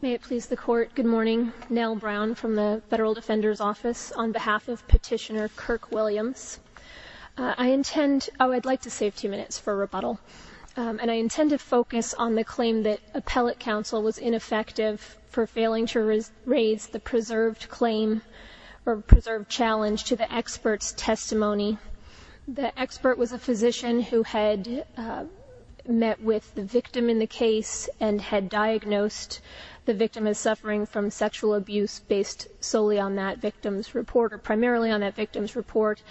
May it please the court good morning Nell Brown from the Federal Defender's Office on behalf of petitioner Kirk Williams. I intend oh I'd like to save two minutes for rebuttal and I intend to focus on the claim that appellate counsel was ineffective for failing to raise the preserved claim or preserved challenge to the experts testimony. The expert was a physician who had met with the victim in the case and had diagnosed the victim as suffering from sexual abuse based solely on that victim's report or primarily on that victim's report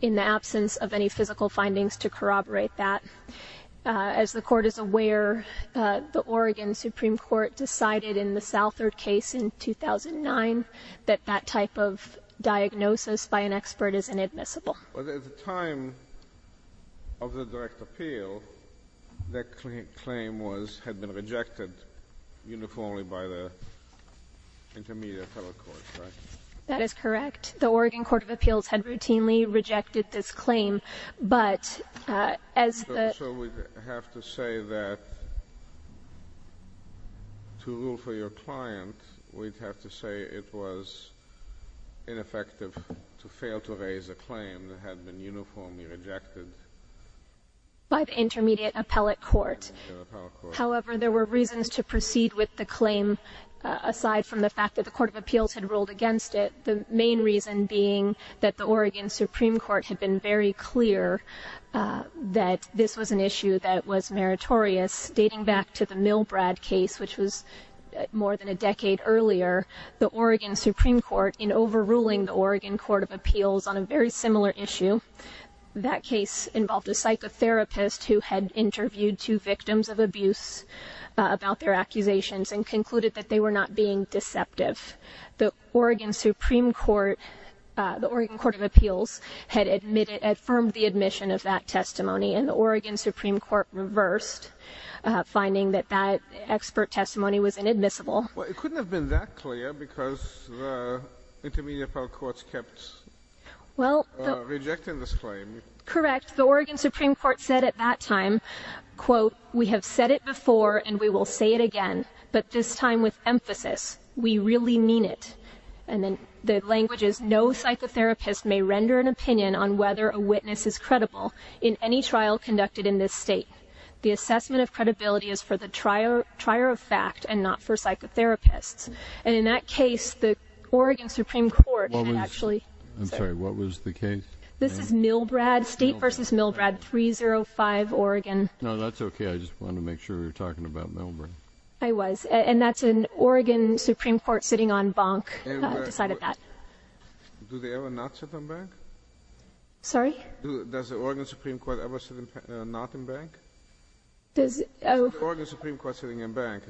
in the absence of any physical findings to corroborate that. As the court is aware the Oregon Supreme Court decided in the Southard case in 2009 that that type of diagnosis by an expert is inadmissible. At the time of the direct appeal that claim was had been rejected uniformly by the Intermediate Federal Court. That is correct the Oregon Court of Appeals had routinely rejected this claim but as we have to say that to rule for your client we'd have to say it was ineffective to fail to raise a claim that had been uniformly rejected by the Intermediate Appellate Court. However there were reasons to proceed with the claim aside from the fact that the Court of Appeals had ruled against it. The main reason being that the Oregon Supreme Court had been very clear that this was an issue that was meritorious dating back to the Milbrad case which was more than a decade earlier. The Oregon Supreme Court in overruling the Oregon Court of Appeals on a very similar issue. That case involved a psychotherapist who had interviewed two victims of abuse about their accusations and concluded that they were not being deceptive. The Oregon Supreme Court, the Oregon Court of Appeals had admitted, had affirmed the admission of that testimony and the Oregon Supreme Court reversed finding that that expert testimony was inadmissible. Well it couldn't have been that clear because the Intermediate Federal Court kept rejecting this claim. Correct the Oregon Supreme Court said at that time quote we have said it before and we will say it again but this time with emphasis we really mean it and then the language is no psychotherapist may render an opinion on whether a witness is credible in any trial conducted in this state. The assessment of credibility is for the trier of fact and not for psychotherapists and in that case the Oregon Supreme Court actually. I'm sorry what was the case? This is Milbrad state versus Milbrad 305 Oregon. No that's okay I just want to make sure you're talking about Milbrad. I was and that's an Oregon Supreme Court sitting on bunk decided that. Do they ever not sit on bunk? Sorry? Does the Oregon Supreme Court ever sit not on bunk? Is the Oregon Supreme Court sitting on bunk?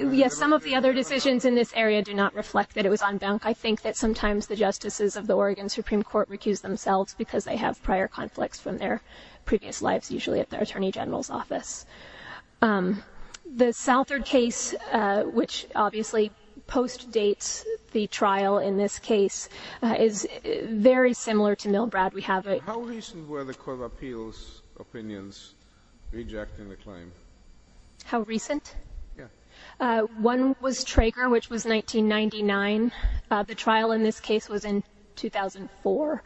Yes some of the other decisions in this area do not reflect that it was on bunk I think that sometimes the justices of the Oregon Supreme Court recuse themselves because they have prior conflicts from their previous lives usually at their Attorney General's office. The Southard case which obviously postdates the trial in this case is very similar to Milbrad we have it. How recent were the Court of Appeals opinions rejecting the claim? How recent? One was Traeger which was 1999 the trial in this case was in 2004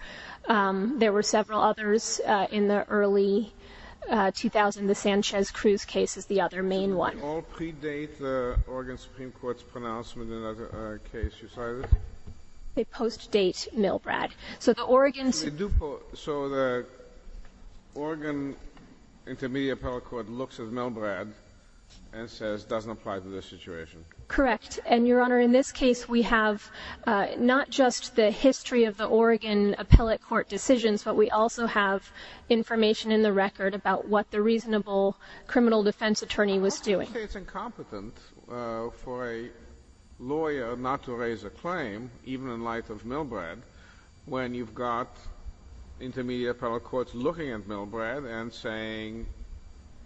there were several others in the early 2000 the Sanchez-Cruz case is the other main one. Did they all predate the Oregon Supreme Court's pronouncement in that case? They postdate Milbrad. So the Oregon Intermediate Appellate Court looks at Milbrad and says doesn't apply to this situation. Correct and your honor in this case we have not just the history of the Oregon Appellate Court decisions but we also have information in the record about what the reasonable criminal defense attorney was doing. How can you say it's incompetent for a lawyer not to raise a claim even in light of Milbrad when you've got Intermediate Appellate Courts looking at Milbrad and saying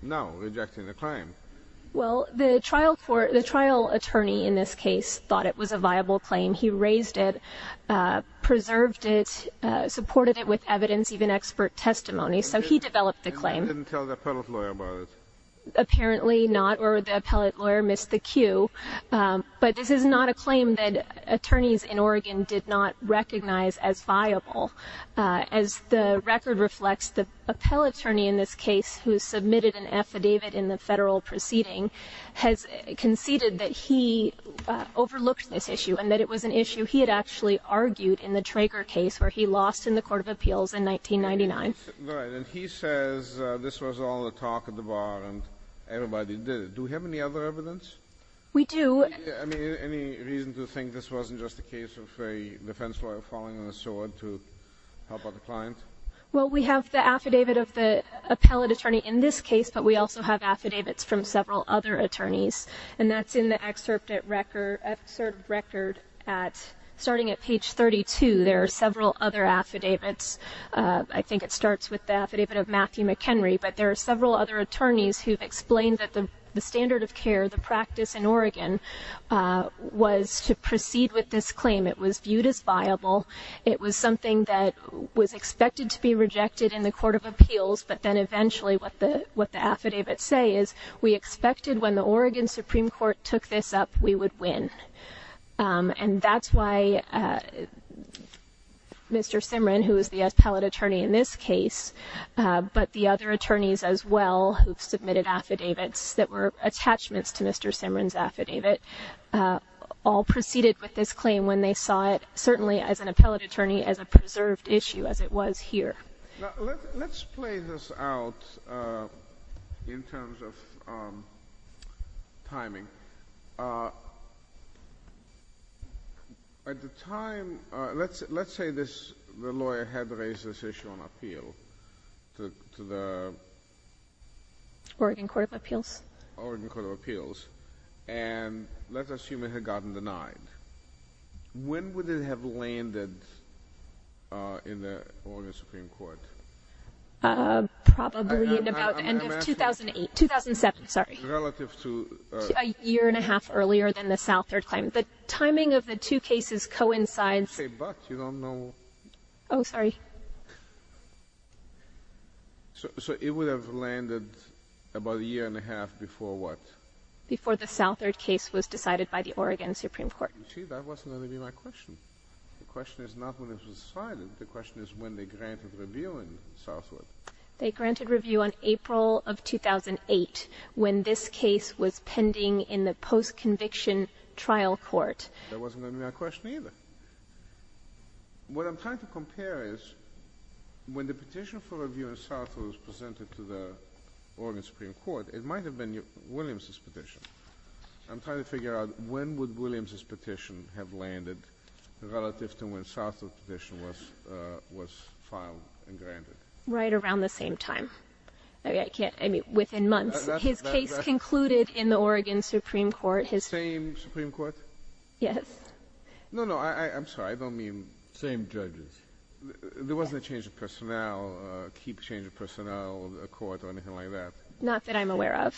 no rejecting the claim? Well the trial court the trial attorney in this case thought it was a viable claim he raised it preserved it supported it with evidence even expert testimony so he apparently not or the appellate lawyer missed the cue but this is not a claim that attorneys in Oregon did not recognize as viable as the record reflects the appellate attorney in this case who submitted an affidavit in the federal proceeding has conceded that he overlooked this issue and that it was an issue he had actually argued in the Traeger case where he lost in the Court of Appeals in 1999. Right and he says this was all the talk at the bar and everybody did it. Do we have any other evidence? We do. I mean any reason to think this wasn't just a case of a defense lawyer falling on a sword to help out a client? Well we have the affidavit of the appellate attorney in this case but we also have affidavits from several other attorneys and that's in the excerpt at record excerpt record at starting at page 32 there are several other affidavits I think it starts with the affidavit of Matthew McHenry but there are several other attorneys who've explained that the standard of care the practice in Oregon was to proceed with this claim it was viewed as viable it was something that was expected to be rejected in the Court of Appeals but then eventually what the what the affidavit say is we expected when the Oregon Supreme Court took this up we would win and that's why Mr. Simran who is the appellate attorney in this case but the other attorneys as well submitted affidavits that were attachments to Mr. Simran's affidavit all proceeded with this claim when they saw it certainly as an appellate attorney as a preserved issue as it was here let's play this out in terms of timing at the time let's let's say this the lawyer had raised this issue on appeal to the Oregon Court of Appeals Oregon Court of Appeals and let's assume it had gotten denied when would it have landed in the Oregon Supreme Court probably in about the end of 2008 2007 sorry relative to a year and a half earlier than the South Third claim the timing of the two cases coincides oh sorry so it would have landed about a year and a half before what before the South Third case was decided by the Oregon Supreme Court the question is not when it was decided the question is when they granted review in Southwood they granted review on April of 2008 when this case was pending in the post-conviction trial court what I'm trying to compare is when the petition for review in Southwood was presented to the Oregon Supreme Court it might have been your Williams's petition I'm trying to figure out when would Williams's was right around the same time okay I can't I mean within months his case concluded in the Oregon Supreme Court his same Supreme Court yes no no I I'm sorry I don't mean same judges there wasn't a change of personnel keep change of personnel a court or anything like that not that I'm aware of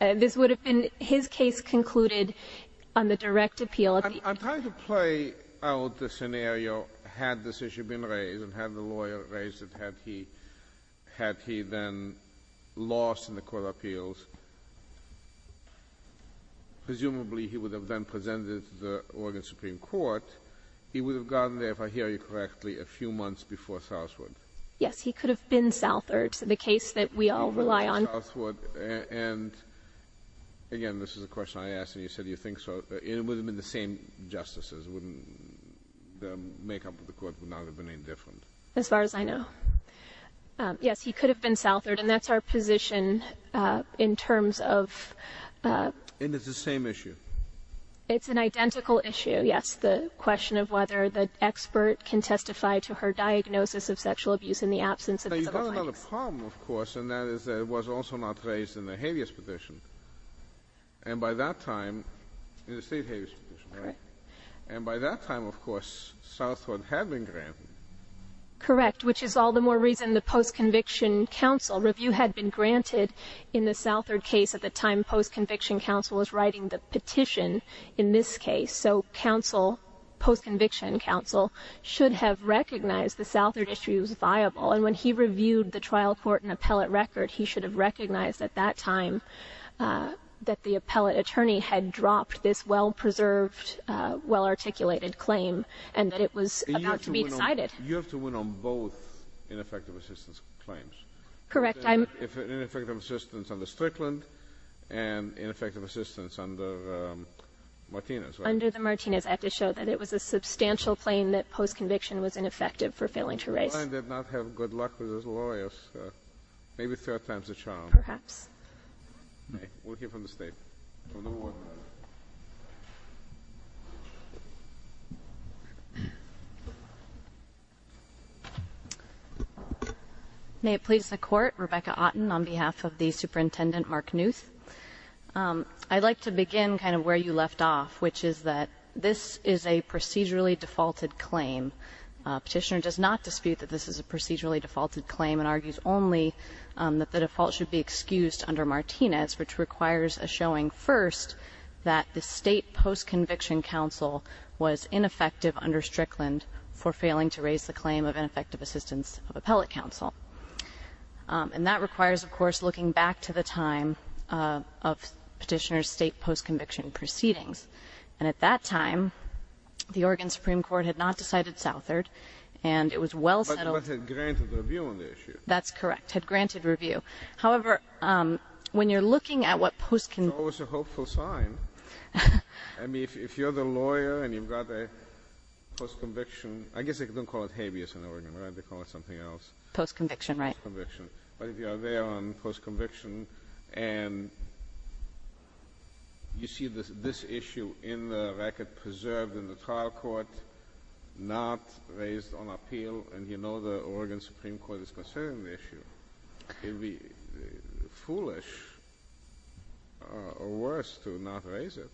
and this would have been his case concluded on the direct appeal I'm trying to play out the scenario had this issue been raised and had the lawyer raised it had he had he then lost in the court of appeals presumably he would have then presented the Oregon Supreme Court he would have gotten there if I hear you correctly a few months before Southwood yes he could have been South Third the case that we all rely on and again this is a question I asked and you said you think so it would have been the same justices wouldn't the makeup of the court would not have been any different as far as I know yes he could have been South Third and that's our position in terms of and it's the same issue it's an identical issue yes the question of whether the expert can testify to her diagnosis of was also not raised in the habeas petition and by that time and by that time of course Southwood had been granted correct which is all the more reason the post-conviction counsel review had been granted in the South Third case at the time post-conviction counsel was writing the petition in this case so counsel post-conviction counsel should have recognized the South Third issue is viable and when he reviewed the trial court and appellate record he should have recognized at that time that the appellate attorney had dropped this well-preserved well articulated claim and that it was decided you have to win on both ineffective assistance claims correct I'm effective assistance on the Strickland and ineffective assistance under Martinez under the Martinez act to show that it was a substantial claim that post-conviction was ineffective for failing to raise did not have good luck with his lawyers maybe third time's a charm perhaps okay we'll hear from the state may it please the court Rebecca Otten on behalf of the superintendent Mark Knuth I'd like to begin kind of where you left off which is that this is a procedurally defaulted claim petitioner does not dispute that this is a procedurally defaulted claim and argues only that the default should be excused under Martinez which requires a showing first that the state post-conviction counsel was ineffective under Strickland for failing to raise the claim of ineffective assistance of appellate counsel and that requires of course looking back to the time of petitioners state post-conviction proceedings and at that time the Oregon Supreme Court had not decided Southard and it was well settled that's correct had granted review however when you're looking at what post can also hopeful sign I mean if you're the lawyer and you've got a post-conviction I guess they don't call it habeas in Oregon right they call it something else post-conviction right conviction but if you are there on post-conviction and you see this this issue in the record preserved in the trial court not raised on appeal and you know the Oregon Supreme Court is concerning the issue it'd be foolish or worse to not raise it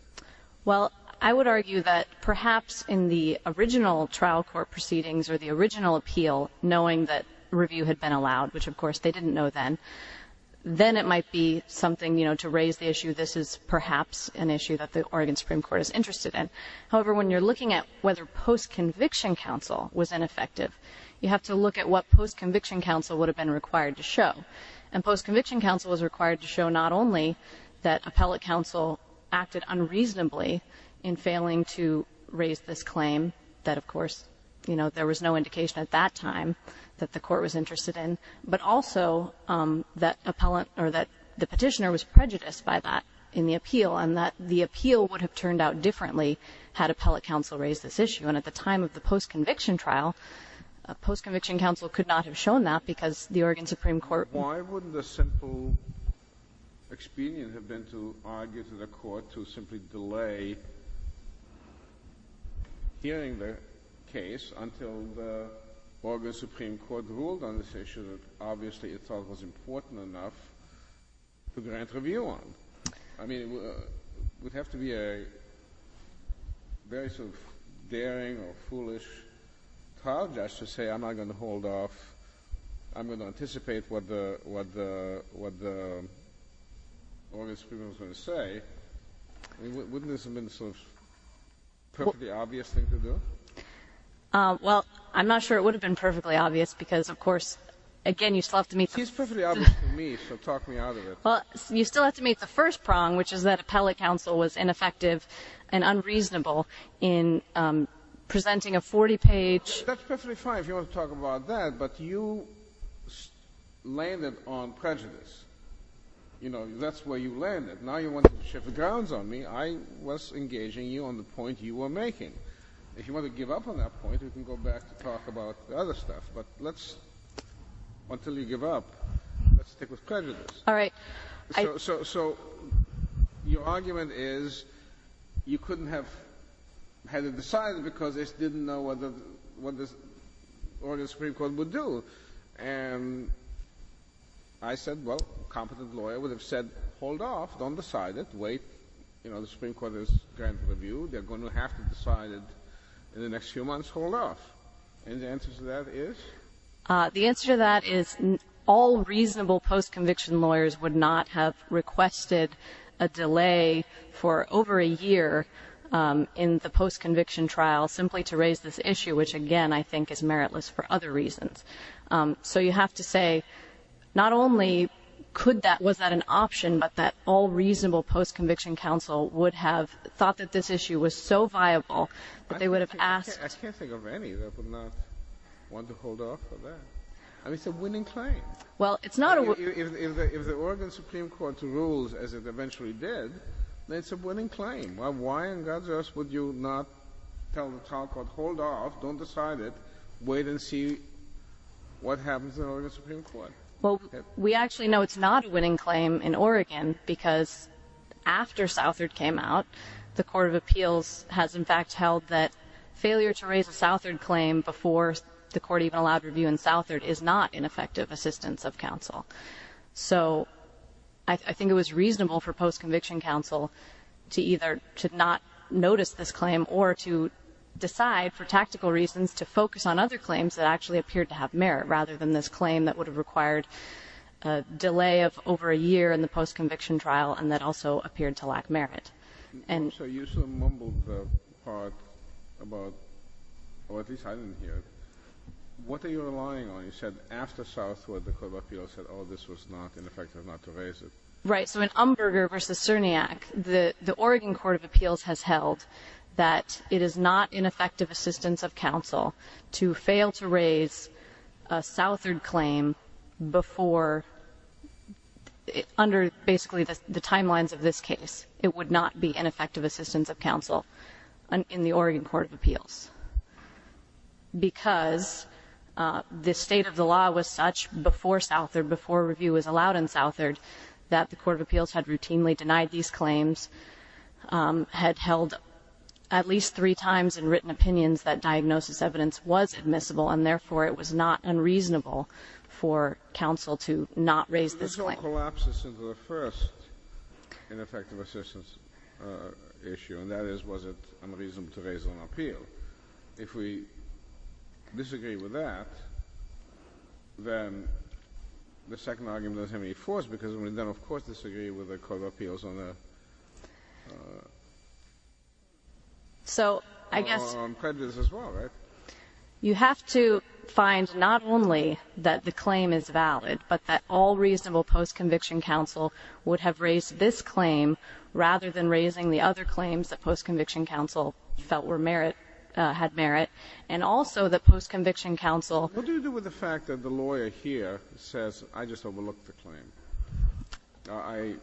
well I would argue that perhaps in the original trial court proceedings or the original appeal knowing that review had been allowed which of course they didn't know then it might be something you know to raise the issue this is perhaps an issue that the Oregon Supreme Court is interested in however when you're looking at whether post-conviction counsel was ineffective you have to look at what post-conviction counsel would have been required to show and post-conviction counsel was required to show not only that appellate counsel acted unreasonably in failing to raise this claim that of course you know there was no indication at that time that the appellant or that the petitioner was prejudiced by that in the appeal and that the appeal would have turned out differently had appellate counsel raised this issue and at the time of the post-conviction trial post-conviction counsel could not have shown that because the Oregon Supreme Court why wouldn't the simple expedient have been to argue to the court to simply delay hearing their case until the Oregon Supreme Court ruled on this issue obviously it was important enough to grant review on I mean it would have to be a very sort of daring or foolish trial judge to say I'm not going to hold off I'm going to anticipate what the Oregon Supreme Court was going to say wouldn't this have been sort of a perfectly obvious thing to do well I'm not sure it again you still have to meet me so talk me out of it well you still have to meet the first prong which is that appellate counsel was ineffective and unreasonable in presenting a 40 page that's perfectly fine if you want to talk about that but you landed on prejudice you know that's where you landed now you want to shift the grounds on me I was engaging you on the point you were making if you want to until you give up stick with prejudice all right so your argument is you couldn't have had it decided because they didn't know what the what this Oregon Supreme Court would do and I said well competent lawyer would have said hold off don't decide it wait you know the Supreme Court is grant review they're going to have to decide it in the next few months hold off and the answer to that is all reasonable post conviction lawyers would not have requested a delay for over a year in the post conviction trial simply to raise this issue which again I think is meritless for other reasons so you have to say not only could that was that an option but that all reasonable post conviction counsel would have thought that this issue was so viable but they it's a winning claim well it's not if the Oregon Supreme Court rules as it eventually did it's a winning claim well why on God's earth would you not tell the trial court hold off don't decide it wait and see what happens well we actually know it's not a winning claim in Oregon because after Southard came out the Court of Appeals has in fact held that failure to raise a Southard claim before the court even allowed review in Southard is not an effective assistance of counsel so I think it was reasonable for post conviction counsel to either should not notice this claim or to decide for tactical reasons to focus on other claims that actually appeared to have merit rather than this claim that would have required a delay of over a year in the post conviction trial and that also appeared to lack merit and what are you relying on you said after Southward the Court of Appeals said oh this was not an effective not to raise it right so in Umberger versus Cerniak the the Oregon Court of Appeals has held that it is not an effective assistance of counsel to fail to raise a Southard claim before under basically the timelines of this case it would not be an effective assistance of counsel and in the Oregon Court of Appeals because the state of the law was such before Southard before review was allowed in Southard that the Court of Appeals had routinely denied these claims had held at least three times in written opinions that diagnosis evidence was admissible and therefore it was not unreasonable for counsel to not raise this issue and that is was it unreasonable to raise on appeal if we disagree with that then the second argument of him any force because we you have to find not only that the claim is valid but that all reasonable post conviction counsel would have raised this claim rather than raising the other claims that post conviction counsel felt were merit had merit and also the post conviction counsel with the fact that the lawyer here says I just overlooked the claim I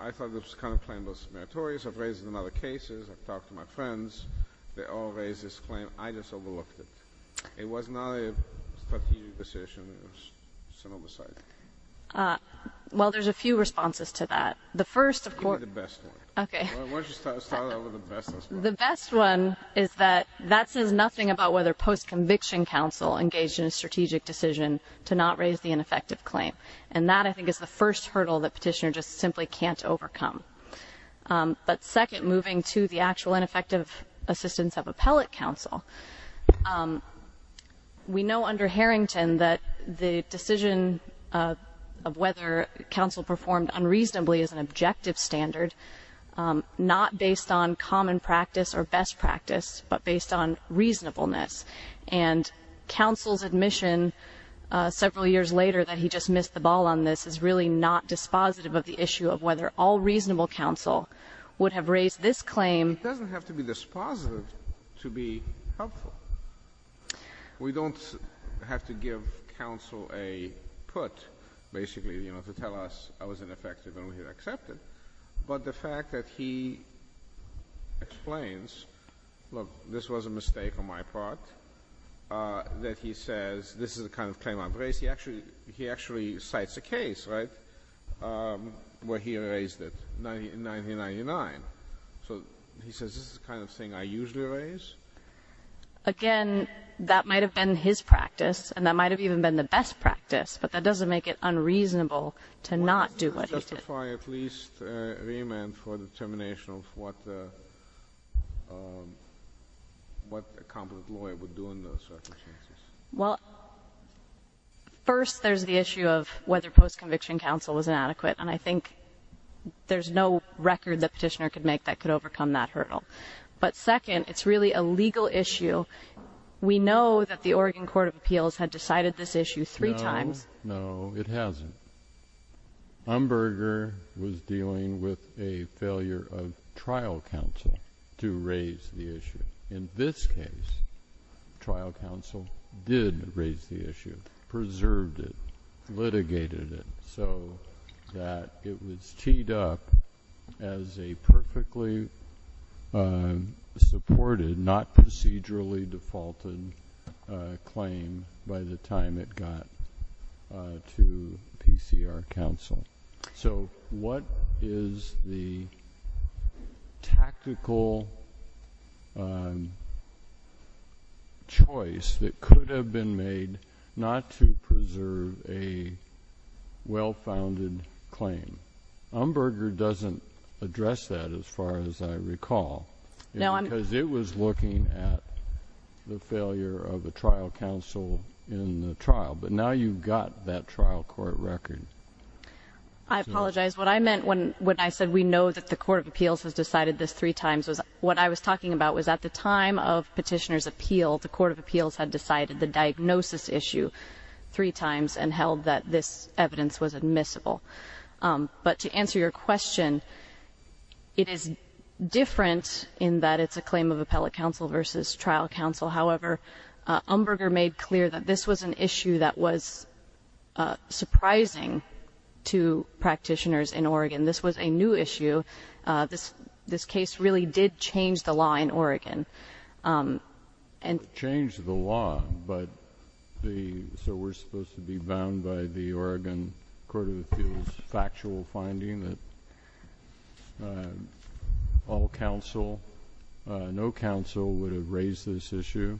I thought this kind of claim was meritorious of raising another cases I talked to my friends they all raised this claim I just overlooked it it was not a decision well there's a few responses to that the first of course the best one is that that says nothing about whether post conviction counsel engaged in a strategic decision to not raise the ineffective claim and that I think is the first hurdle that petitioner just simply can't overcome but second moving to the actual ineffective assistance of appellate counsel we know under Harrington that the decision of whether counsel performed unreasonably is an objective standard not based on common practice or best practice but based on reasonableness and counsel's admission several years later that he just missed the ball on this is really not dispositive of the issue of whether all reasonable counsel would have raised this claim doesn't have to be dispositive to be helpful we don't have to give counsel a put basically you know to tell us I was ineffective and we accepted but the fact that he explains look this was a mistake on my part that he says this is the kind of claim I've raised he actually he actually cites a where he raised it in 1999 so he says this is the kind of thing I usually raise again that might have been his practice and that might have even been the best practice but that doesn't make it unreasonable to not do what he did at least remand for the termination of what what a competent lawyer would do in those circumstances well first there's the issue of whether post-conviction counsel was inadequate and I think there's no record that petitioner could make that could overcome that hurdle but second it's really a legal issue we know that the Oregon Court of Appeals had decided this issue three times no it hasn't Umberger was dealing with a failure of trial counsel to raise the issue in this case trial counsel did raise the issue preserved it litigated it so that it was teed up as a perfectly supported not procedurally defaulted claim by the time it got to PCR counsel so what is the tactical choice that could have been made not to preserve a well-founded claim Umberger doesn't address that as far as I recall no I'm because it was looking at the failure of a trial counsel in the trial but now you've got that trial court record I apologize what I meant when when I said we know that the Court of Appeals has decided this three times was what I was talking about was at the time of petitioners appeal the Court of Appeals had decided the diagnosis issue three times and held that this evidence was admissible but to answer your question it is different in that it's a claim of appellate counsel versus trial counsel however Umberger made clear that this was an issue that was surprising to practitioners in Oregon this was a new issue this this case really did change the law in Oregon and change the law but the so we're supposed to be bound by the Oregon Court of Appeals factual finding that all counsel no counsel would have raised this issue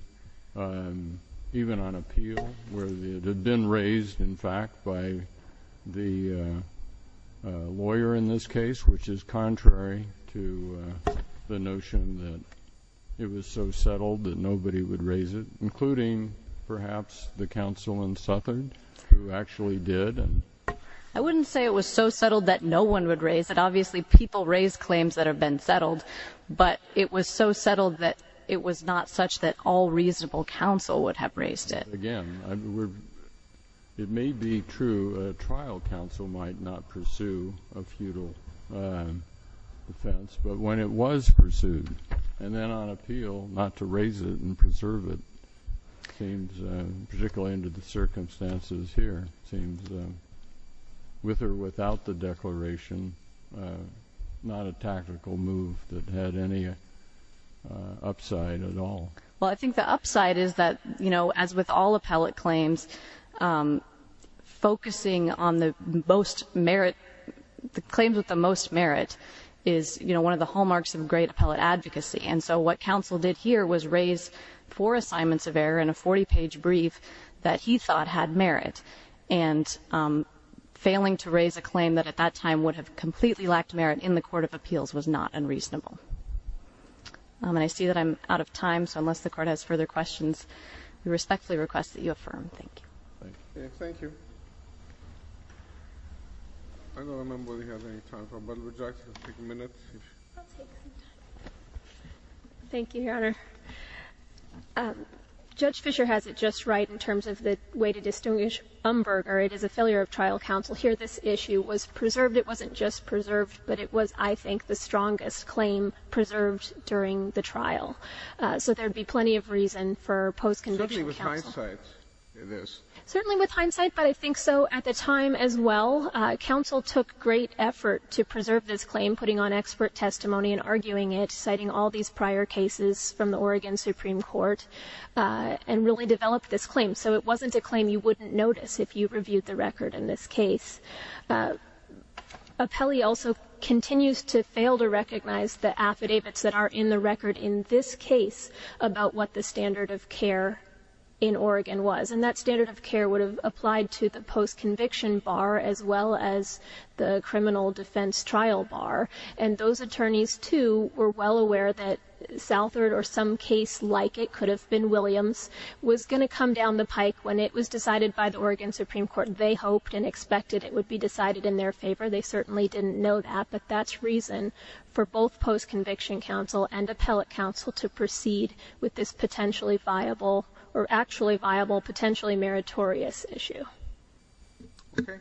even on appeal where the had been raised in fact by the lawyer in this case which is contrary to the notion that it was so settled that nobody would raise it including perhaps the counsel and southern who actually did I wouldn't say it was so settled that no one would raise it obviously people raise claims that have been settled but it was so settled that it was not such that all reasonable counsel would have raised it again it may be true trial counsel might not pursue a futile defense but when it was pursued and then on appeal not to raise it and preserve it seems particularly into the circumstances here seems with or without the declaration not a tactical move that had any upside at all well I think the upside is that you know as with all appellate claims focusing on the most merit the claims with the most merit is you know one of the hallmarks of great appellate advocacy and so what counsel did here was raise four assignments of error in a 40 page brief that he thought had merit and failing to raise a claim that at that time would have completely lacked merit in the Court of Appeals was not unreasonable and I see that I'm out of time so unless the court has further questions we respectfully request that you affirm thank you thank you your honor judge Fisher has it just right in terms of the way to preserve it wasn't just preserved but it was I think the strongest claim preserved during the trial so there'd be plenty of reason for post-conviction certainly with hindsight but I think so at the time as well counsel took great effort to preserve this claim putting on expert testimony and arguing it citing all these prior cases from the Oregon Supreme Court and really developed this claim so it wasn't a claim you wouldn't notice if you reviewed the record in this case. Appellee also continues to fail to recognize the affidavits that are in the record in this case about what the standard of care in Oregon was and that standard of care would have applied to the post-conviction bar as well as the criminal defense trial bar and those attorneys too were well aware that Southard or some case like it could have been Williams was going to come down the pike when it was decided by the Oregon Supreme Court they hoped and expected it would be decided in their favor they certainly didn't know that but that's reason for both post-conviction counsel and appellate counsel to proceed with this potentially viable or actually viable potentially meritorious issue. Thank you.